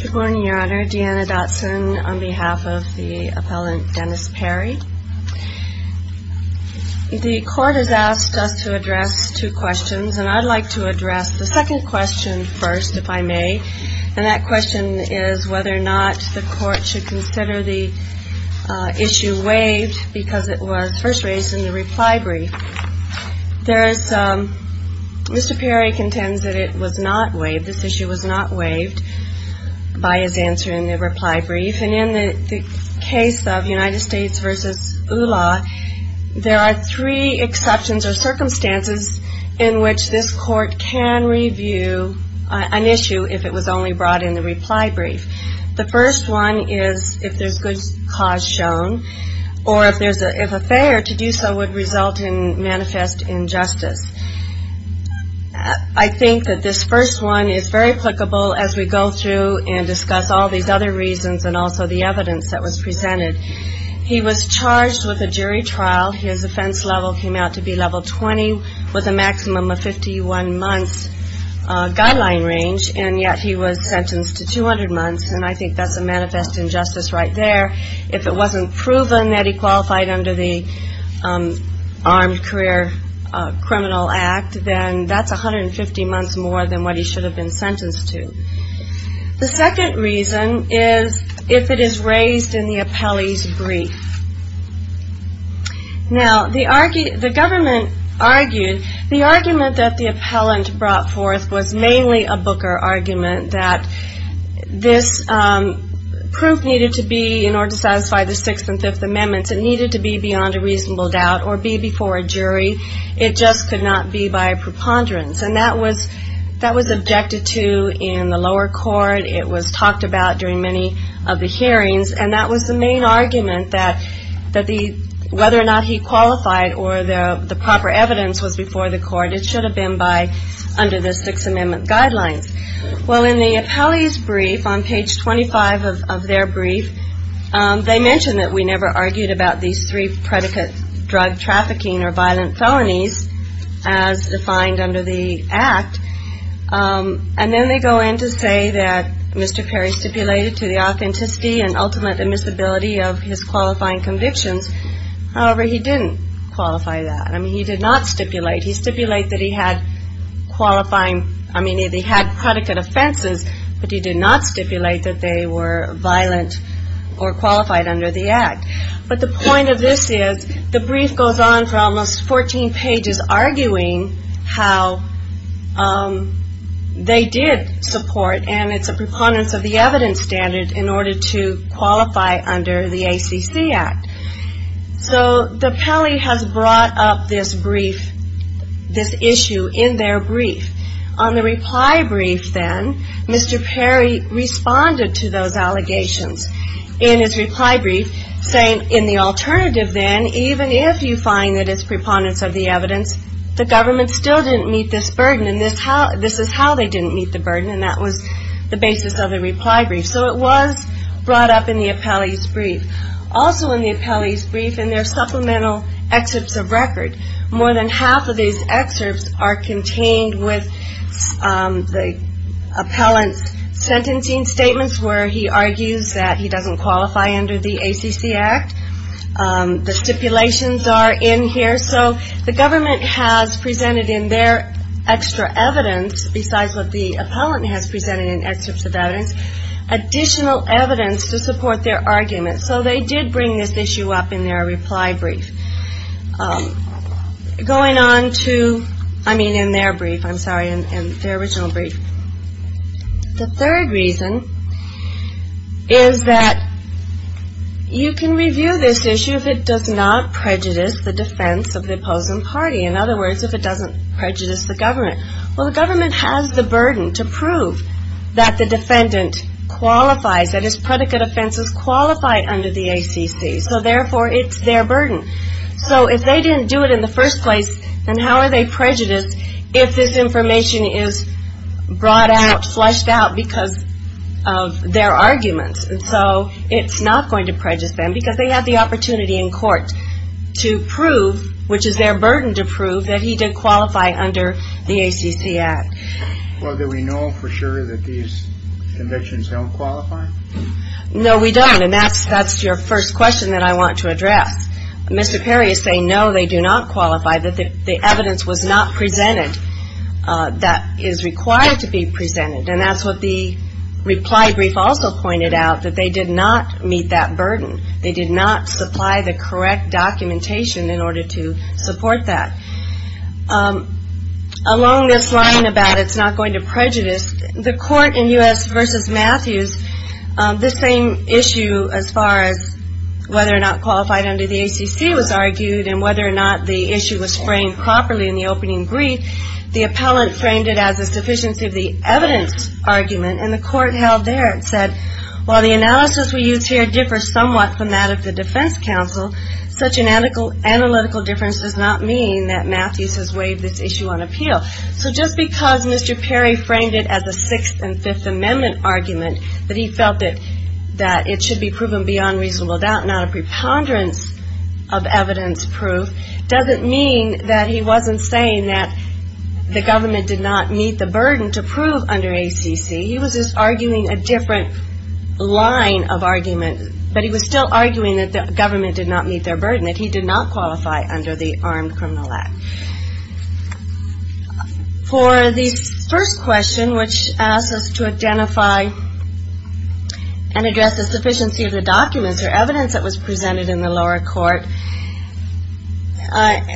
Good morning, Your Honor. Deanna Dotson on behalf of the appellant Dennis Perry. The court has asked us to address two questions, and I'd like to address the second question first, if I may. And that question is whether or not the court should consider the issue waived because it was first raised in the reply brief. Mr. Perry contends that it was not waived, this issue was not waived by his answer in the reply brief. And in the case of United States v. ULA, there are three exceptions or circumstances in which this court can review an issue if it was only brought in the reply brief. The first one is if there's good cause shown, or if a fair to do so would result in manifest injustice. I think that this first one is very applicable as we go through and discuss all these other reasons and also the evidence that was presented. He was charged with a jury trial. His offense level came out to be level 20 with a maximum of 51 months guideline range, and yet he was sentenced to 200 months, and I think that's a manifest injustice right there. If it wasn't proven that he qualified under the Armed Career Criminal Act, then that's 150 months more than what he should have been sentenced to. The second reason is if it is raised in the appellee's brief. Now, the government argued, the argument that the appellant brought forth was mainly a Booker argument that this proof needed to be, in order to satisfy the Sixth and Fifth Amendments, it needed to be beyond a reasonable doubt or be before a jury. It just could not be by preponderance, and that was objected to in the lower court. It was talked about during many of the hearings, and that was the main argument that whether or not he qualified or the proper evidence was before the court, it should have been by, under the Sixth Amendment guidelines. Well, in the appellee's brief, on page 25 of their brief, they mention that we never argued about these three predicates, drug trafficking or violent felonies, as defined under the Act, and then they go in to say that Mr. Perry stipulated to the authenticity and ultimate admissibility of his qualifying convictions. However, he didn't qualify that. I mean, he did not stipulate. He stipulated that he had qualifying, I mean, that he had predicate offenses, but he did not stipulate that they were violent or qualified under the Act. But the point of this is, the brief goes on for almost 14 pages, arguing how they did support, and it's a preponderance of the evidence standard, in order to qualify under the ACC Act. So, the appellee has brought up this brief, this issue, in their brief. On the reply brief, then, Mr. Perry responded to those allegations in his reply brief, saying, in the alternative, then, even if you find that it's preponderance of the evidence, the government still didn't meet this burden, and this is how they didn't meet the burden, and that was the basis of the reply brief. So it was brought up in the appellee's brief. Also in the appellee's brief, in their supplemental excerpts of record, more than half of these excerpts are contained with the appellant's sentencing statements, where he argues that he doesn't qualify under the ACC Act. The stipulations are in here, so the government has presented in their extra evidence, besides what the appellant has presented in excerpts of evidence, additional evidence to support their argument. So they did bring this issue up in their reply brief. Going on to, I mean, in their brief, I'm sorry, in their original brief. The third reason is that you can review this issue if it does not prejudice the defense of the opposing party. In other words, if it doesn't prejudice the government. Well, the government has the burden to prove that the defendant qualifies, that his predicate offenses qualify under the ACC, so therefore it's their burden. So if they didn't do it in the first place, then how are they prejudiced if this information is brought out, fleshed out, because of their arguments? And so it's not going to prejudice them, because they have the opportunity in court to prove, which is their burden to prove, that he did qualify under the ACC Act. Well, do we know for sure that these convictions don't qualify? No, we don't, and that's your first question that I want to address. Mr. Perry is saying, no, they do not qualify, that the evidence was not presented that is required to be presented, and that's what the reply brief also pointed out, that they did not meet that burden. They did not supply the correct documentation in order to support that. Along this line about it's not going to prejudice, the court in U.S. v. Matthews, this same issue as far as whether or not qualified under the ACC was argued, and whether or not the issue was framed properly in the opening brief, the appellant framed it as a sufficiency of the evidence argument, and the court held there and said, well, the analysis we use here differs somewhat from that of the defense counsel. Such an analytical difference does not mean that Matthews has waived this issue on appeal. So just because Mr. Perry framed it as a 6th and 5th Amendment argument, that he felt that it should be proven beyond reasonable doubt, not a preponderance of evidence proof, doesn't mean that he wasn't saying that the government did not meet the burden to prove under ACC. He was just arguing a different line of argument, but he was still arguing that the government did not meet their burden, that he did not qualify under the Armed Criminal Act. For the first question, which asks us to identify and address the sufficiency of the documents or evidence that was presented in the lower court,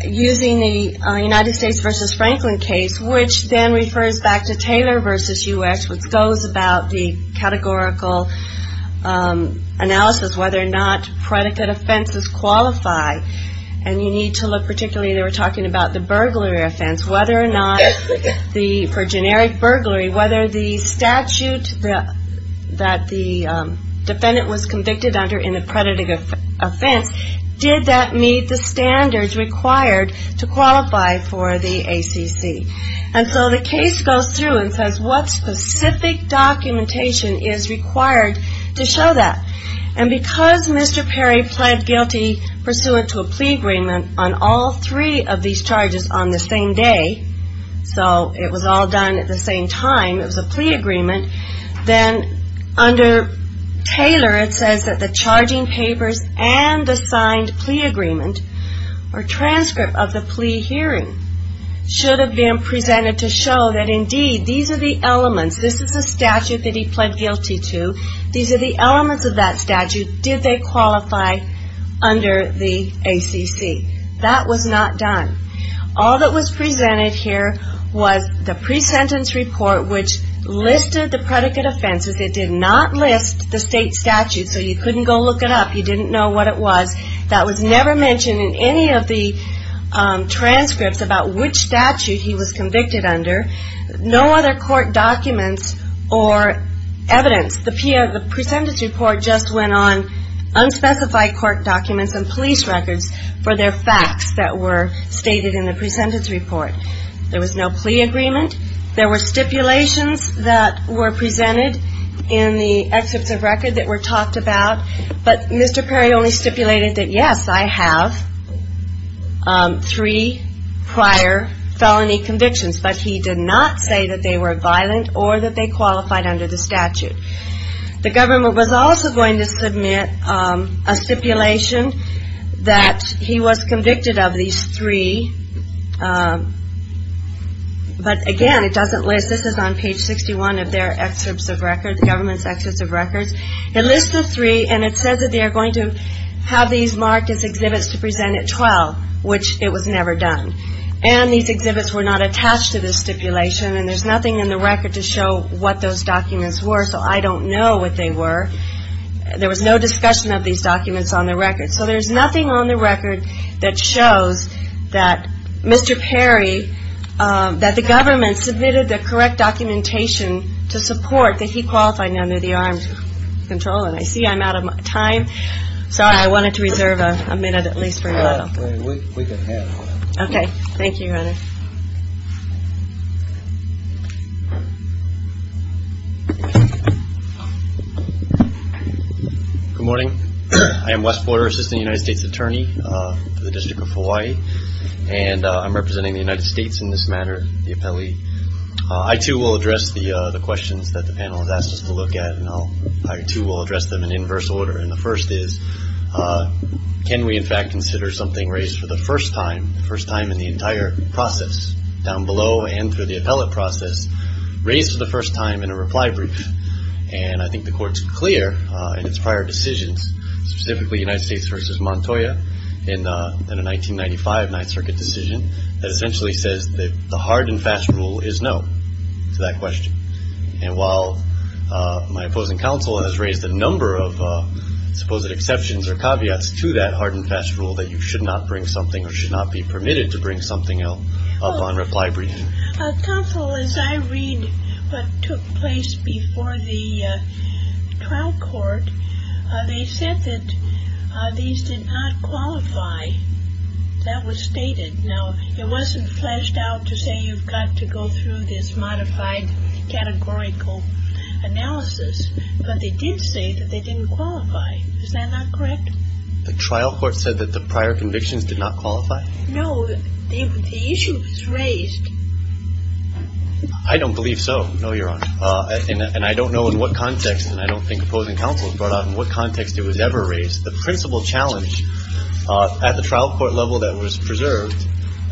using the United States v. Franklin case, which then refers back to Taylor v. U.S., which goes about the categorical analysis, whether or not predicate offenses qualify. And you need to look particularly, they were talking about the burglary offense, whether or not the, for generic burglary, whether the statute that the defendant was convicted under in a predicate offense, did that meet the standards required to qualify for the ACC. And so the case goes through and says what specific documentation is required to show that. And because Mr. Perry pled guilty pursuant to a plea agreement on all three of these charges on the same day, so it was all done at the same time, it was a plea agreement, then under Taylor it says that the charging or transcript of the plea hearing should have been presented to show that indeed these are the elements, this is the statute that he pled guilty to, these are the elements of that statute, did they qualify under the ACC. That was not done. All that was presented here was the pre-sentence report which listed the predicate offenses, it did not list the state statute, so you couldn't go look it up, you didn't know what it was. That was never mentioned in any of the transcripts about which statute he was convicted under. No other court documents or evidence, the pre-sentence report just went on unspecified court documents and police records for their facts that were stated in the pre-sentence report. There was no plea agreement, there were stipulations that were presented in the pre-sentence report that said I have three prior felony convictions, but he did not say that they were violent or that they qualified under the statute. The government was also going to submit a stipulation that he was convicted of these three, but again it doesn't list, this is on page 61 of their excerpts of records, the government's excerpts of records, it lists the three and it says that they are going to have these marked as exhibits to present at 12, which it was never done. And these exhibits were not attached to this stipulation and there's nothing in the record to show what those documents were, so I don't know what they were. There was no discussion of these documents on the record. So there's nothing on the record that shows that Mr. Perry, that the government submitted the correct documentation to support that he qualified under the armed control, and I see I'm out of time, so I wanted to reserve a minute at least for you all. We can have a minute. Okay. Thank you, Heather. Good morning. I am Wes Porter, Assistant United States Attorney for the District of Hawaii, and I'm representing the United States in this matter, the appellee. I too will address the questions that the panel has asked us to look at, and I too will address them in inverse order, and the first is, can we in fact consider something raised for the first time, the first time in the entire process, down below and through the appellate process, raised for the first time in a reply brief? And I think the court's clear in its prior decisions, specifically United States v. Montoya in a 1995 Ninth Circuit decision, that essentially says that the hard and fast rule is no to that question, and while my opposing counsel has raised a number of supposed exceptions or caveats to that hard and fast rule that you should not bring something or should not be permitted to bring something up on reply briefing. Counsel, as I read what took place before the trial court, they said that these did not qualify. That was stated. Now, it wasn't fleshed out to say you've got to go through this modified categorical analysis, but they did say that they didn't qualify. Is that not correct? The trial court said that the prior convictions did not qualify? No. The issue was raised. I don't believe so. No, Your Honor. And I don't know in what context, and I don't think opposing counsel has brought out in what context it was ever raised. The principal challenge at the trial court level that was preserved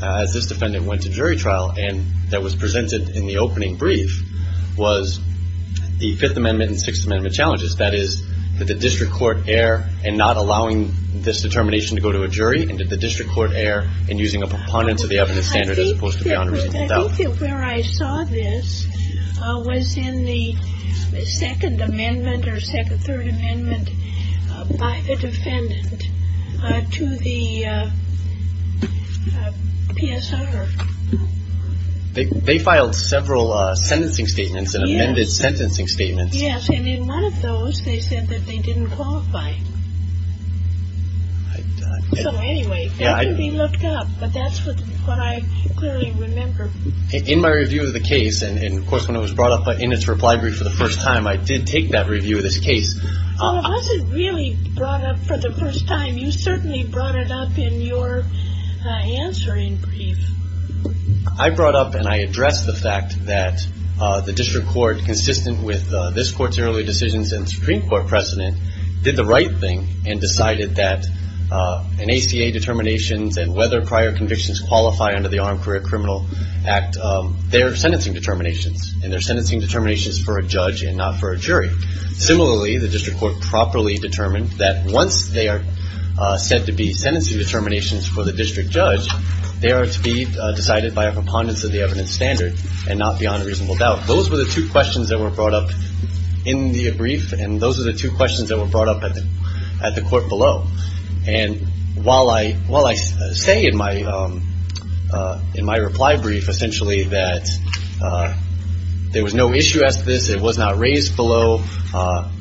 as this defendant went to jury trial and that was presented in the opening brief was the Fifth Amendment and Sixth Amendment challenges. That is, did the district court err in not allowing this determination to go to a jury, and did the district court err in using a preponderance of the evidence standard as opposed to beyond a reasonable doubt? I think that where I saw this was in the Second Amendment or Second, Third Amendment by the defendant to the PSR. They filed several sentencing statements and amended sentencing statements. Yes. And in one of those, they said that they didn't qualify. So anyway, that can be looked up, but that's what I clearly remember. In my review of the case, and of course when it was brought up in its reply brief for the first time, I did take that review of this case. Well, it wasn't really brought up for the first time. You certainly brought it up in your answering brief. I brought up and I addressed the fact that the district court, consistent with this court's early decisions and Supreme Court precedent, did the right thing and decided that an ACA determinations and whether prior convictions qualify under the Armed Career Criminal Act, they're sentencing determinations, and they're sentencing determinations for a judge and not for a jury. Similarly, the district court properly determined that once they are said to be sentencing determinations for the district judge, they are to be decided by a preponderance of the evidence standard and not beyond a reasonable doubt. Those were the two questions that were brought up in the brief, and those are the two questions that were brought up at the court below. And while I say in my reply brief essentially that there was no issue as to this, it was not raised below,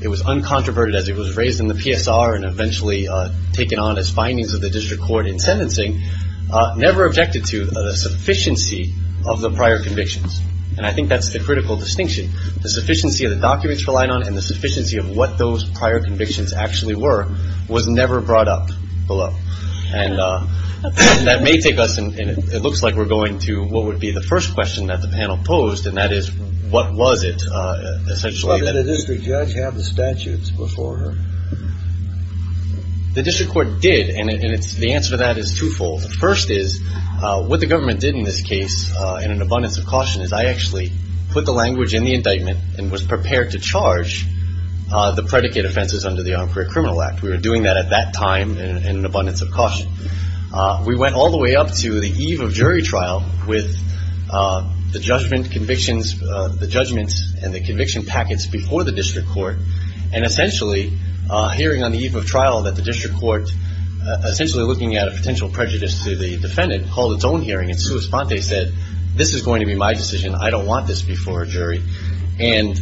it was uncontroverted as it was raised in the PSR and eventually taken on as findings of the district court in sentencing, never objected to the sufficiency of the prior convictions. And I think that's the critical distinction. The sufficiency of the documents relied on and the sufficiency of what those prior convictions actually were was never brought up below. And that may take us, and it looks like we're going to what would be the first question that the panel posed, and that is what was it essentially that it was. But did the district judge have the statutes before her? The district court did, and the answer to that is twofold. The first is what the government did in this case in an abundance of caution is I actually put the language in the indictment and was prepared to charge the predicate offenses under the Armed Career Criminal Act. We were doing that at that time in an abundance of caution. We went all the way up to the eve of jury trial with the judgment convictions, the judgments and the conviction packets before the district court, and essentially hearing on the eve of trial that the district court, essentially looking at a potential prejudice to the defendant, called its own hearing and sua sponte said, this is going to be my decision. I don't want this before a jury. And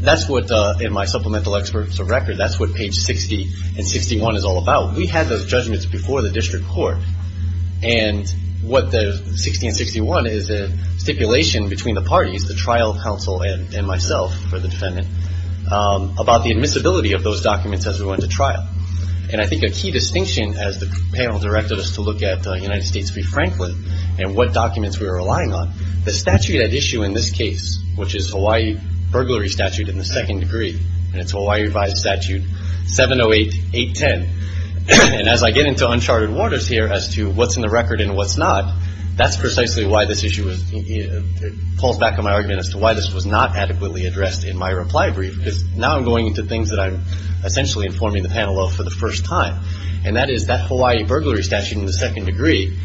that's what, in my supplemental experts of record, that's what page 60 and 61 is all about. We had those judgments before the district court, and what the 60 and 61 is a stipulation between the parties, the trial counsel and myself for the defendant, about the admissibility of those documents as we went to trial. And I think a key distinction, as the panel directed us to look at United States v. Franklin and what documents we were relying on, the statute at issue in this case, which is Hawaii burglary statute in the second degree, and it's Hawaii Revised Statute 708810. And as I get into uncharted waters here as to what's in the record and what's not, that's precisely why this issue pulls back on my argument as to why this was not adequately addressed in my reply brief. Because now I'm going into things that I'm essentially informing the panel of for the first time. And that is, that Hawaii burglary statute in the second degree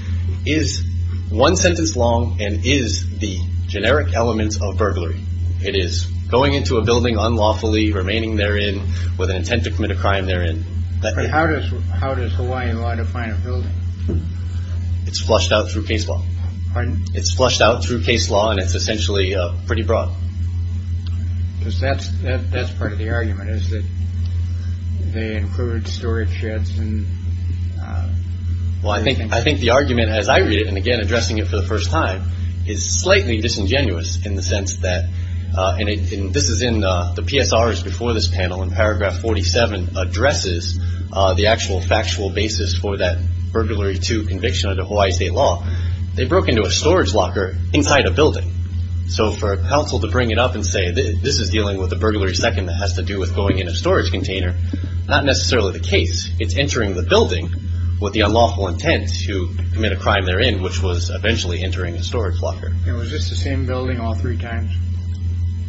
is one sentence long and is the generic element of burglary. It is going into a building unlawfully, remaining therein with an intent to commit a crime therein. How does Hawaiian law define a building? It's flushed out through case law. Pardon? It's flushed out through case law and it's essentially pretty broad. Because that's that's part of the argument is that they include storage sheds. And well, I think I think the argument, as I read it and again addressing it for the first time, is slightly disingenuous in the sense that this is in the PSRs before this panel in paragraph 47 addresses the actual factual basis for that burglary to conviction under Hawaii state law. They broke into a storage locker inside a building. So for a council to bring it up and say this is dealing with a burglary. Second, that has to do with going in a storage container. Not necessarily the case. It's entering the building with the unlawful intent to commit a crime therein, which was eventually entering a storage locker. It was just the same building all three times.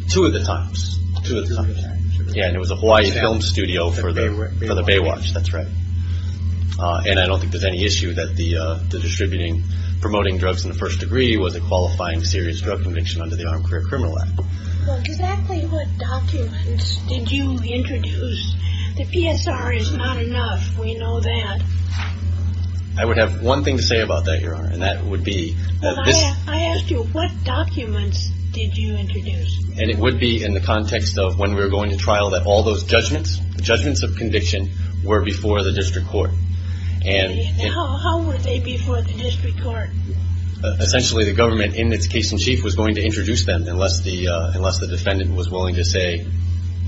Two of the times. Yeah. And it was a Hawaii film studio for the Baywatch. That's right. And I don't think there's any issue that the distributing promoting drugs in the first degree was a qualifying serious drug conviction under the Armed Career Criminal Act. Exactly what documents did you introduce? The PSR is not enough. We know that. I would have one thing to say about that, Your Honor. And that would be this. I asked you what documents did you introduce? And it would be in the context of when we were going to trial that all those judgments judgments of conviction were before the district court. And how would they be for the district court? Essentially, the government in its case in chief was going to introduce them unless the unless the defendant was willing to say,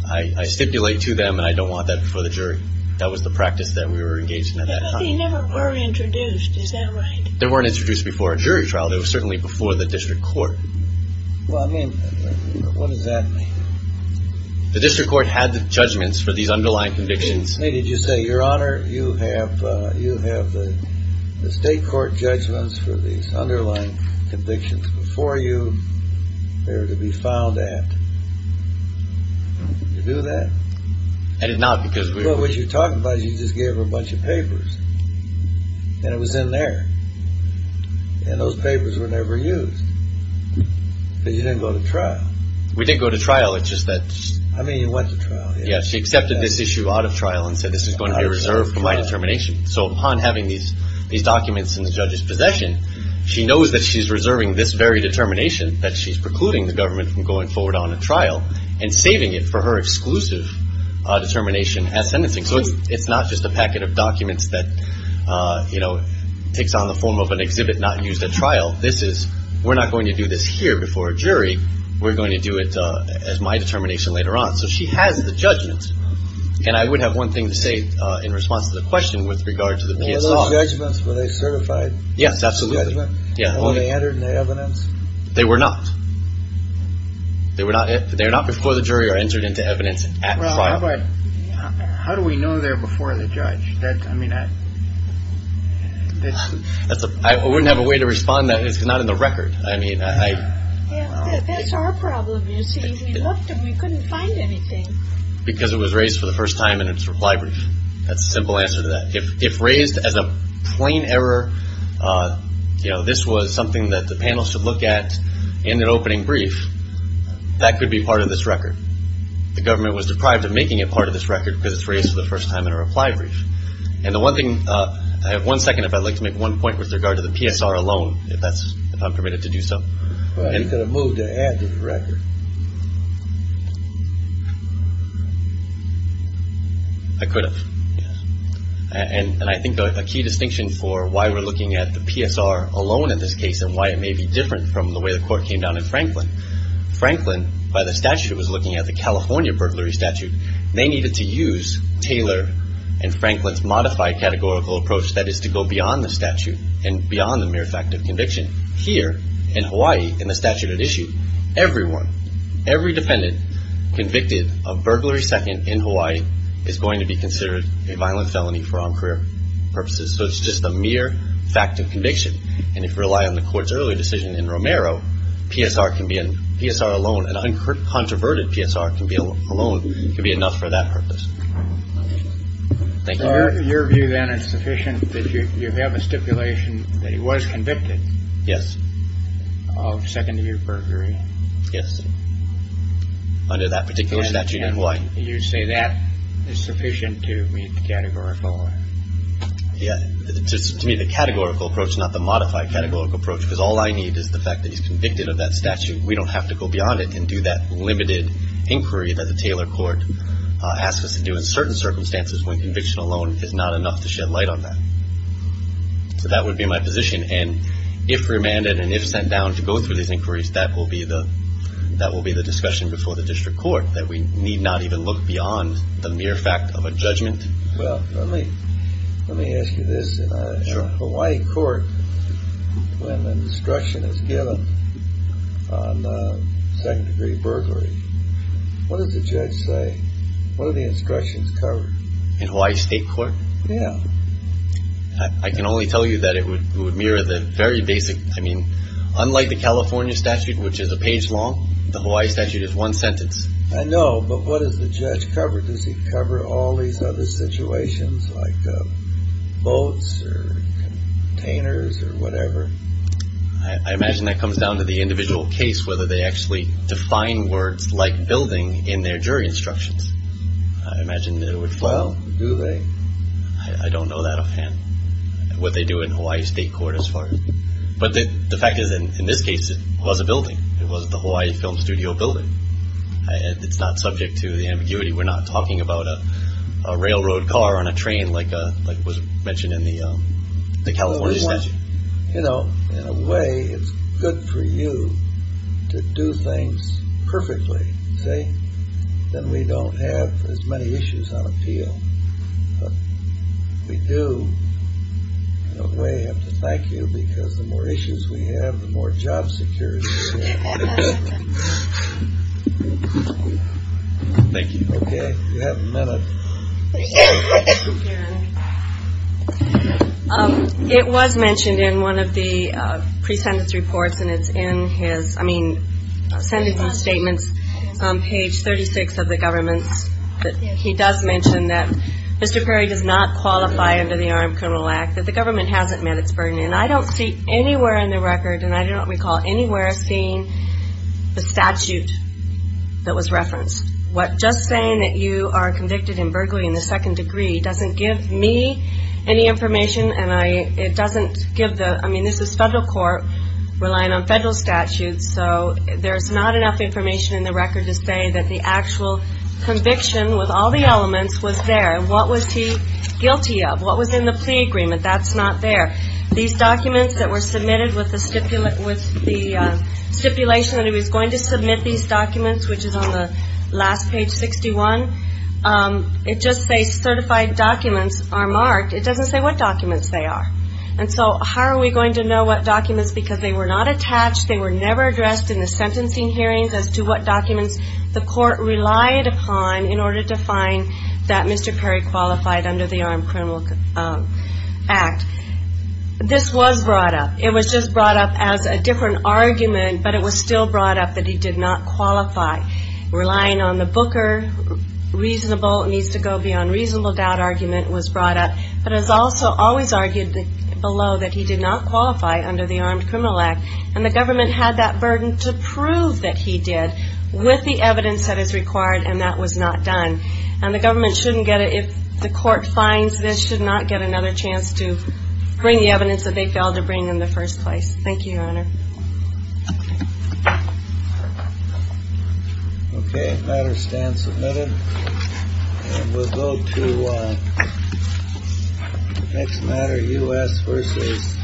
I stipulate to them and I don't want that for the jury. That was the practice that we were engaged in at that time. They never were introduced. Is that right? They weren't introduced before a jury trial. They were certainly before the district court. Well, I mean, what does that mean? The district court had the judgments for these underlying convictions. Did you say, Your Honor, you have the state court judgments for these underlying convictions before you. They were to be filed at. Did you do that? I did not because we were What you're talking about is you just gave her a bunch of papers. And it was in there. And those papers were never used. Because you didn't go to trial. We didn't go to trial. It's just that I mean, you went to trial. Yeah, she accepted this issue out of trial and said, this is going to be reserved for my determination. So upon having these these documents in the judge's possession, she knows that she's reserving this very determination that she's precluding the government from going forward on a trial and saving it for her exclusive determination as sentencing. So it's not just a packet of documents that, you know, takes on the form of an exhibit not used at trial. This is we're not going to do this here before a jury. We're going to do it as my determination later on. So she has the judgment. And I would have one thing to say in response to the question with regard to the judgements. Were they certified? Yes, absolutely. Yeah. They entered the evidence. They were not. They were not. They're not before the jury or entered into evidence at trial. But how do we know they're before the judge? I mean, I wouldn't have a way to respond that is not in the record. I mean, I. That's our problem. You see, we looked and we couldn't find anything. Because it was raised for the first time in its reply brief. That's a simple answer to that. If raised as a plain error, you know, this was something that the panel should look at in an opening brief, that could be part of this record. The government was deprived of making it part of this record because it's raised for the first time in a reply brief. And the one thing I have one second, if I'd like to make one point with regard to the PSR alone, if that's if I'm permitted to do so. You could have moved to add to the record. I could have. And I think a key distinction for why we're looking at the PSR alone in this case and why it may be different from the way the court came down in Franklin. Franklin, by the statute, was looking at the California burglary statute. They needed to use Taylor and Franklin's modified categorical approach that is to go beyond the statute and beyond the mere fact of conviction. And here in Hawaii, in the statute at issue, everyone, every defendant convicted of burglary second in Hawaii is going to be considered a violent felony for armed career purposes. So it's just a mere fact of conviction. And if you rely on the court's earlier decision in Romero, PSR can be in PSR alone. An uncontroverted PSR can be alone. It could be enough for that purpose. Thank you. Your view, then, is sufficient that you have a stipulation that he was convicted. Yes. Of second year burglary. Yes. Under that particular statute in Hawaii. You say that is sufficient to meet the categorical law. Yeah. To me, the categorical approach, not the modified categorical approach, because all I need is the fact that he's convicted of that statute. We don't have to go beyond it and do that limited inquiry that the Taylor court asks us to do in certain circumstances when conviction alone is not enough to shed light on that. So that would be my position. And if remanded and if sent down to go through these inquiries, that will be the that will be the discussion before the district court that we need not even look beyond the mere fact of a judgment. Well, let me let me ask you this. In a Hawaii court, when the instruction is given on second degree burglary, what does the judge say? What are the instructions covered? In Hawaii state court? Yeah. I can only tell you that it would mirror the very basic. I mean, unlike the California statute, which is a page long, the Hawaii statute is one sentence. I know. But what does the judge cover? Does he cover all these other situations like boats or containers or whatever? I imagine that comes down to the individual case, whether they actually define words like building in their jury instructions. I imagine it would. Well, do they? I don't know that offhand, what they do in Hawaii state court as far as. But the fact is, in this case, it was a building. It was the Hawaii Film Studio building. And it's not subject to the ambiguity. We're not talking about a railroad car on a train like it was mentioned in the California statute. You know, in a way, it's good for you to do things perfectly. See? Then we don't have as many issues on appeal. But we do, in a way, have to thank you because the more issues we have, the more job security we have. Thank you. Okay. You have a minute. Thank you. It was mentioned in one of the pre-sentence reports and it's in his, I mean, sentencing statements on page 36 of the government's that he does mention that Mr. Perry does not qualify under the Armed Criminal Act, that the government hasn't met its burden. And I don't see anywhere in the record and I don't recall anywhere seeing the statute that was referenced. Just saying that you are convicted in burglary in the second degree doesn't give me any information and it doesn't give the, I mean, this is federal court relying on federal statutes so there's not enough information in the record to say that the actual conviction with all the elements was there. What was he guilty of? What was in the plea agreement? That's not there. These documents that were submitted with the stipulation that he was going to submit these documents, which is on the last page, 61 it just says certified documents are marked it doesn't say what documents they are. And so how are we going to know what documents because they were not attached they were never addressed in the sentencing hearings as to what documents the court relied upon in order to find that Mr. Perry qualified under the Armed Criminal Act. This was brought up. It was just brought up as a different argument but it was still brought up that he did not qualify relying on the Booker reasonable, needs to go beyond reasonable doubt argument was brought up but it was also always argued below that he did not qualify under the Armed Criminal Act and the government had that burden to prove that he did with the evidence that is required and that was not done. And the government shouldn't get it if the court finds this should not get another chance to bring the evidence that they failed to bring in the first place. Thank you, Your Honor. Okay, matter stands submitted and we'll go to next matter, U.S. versus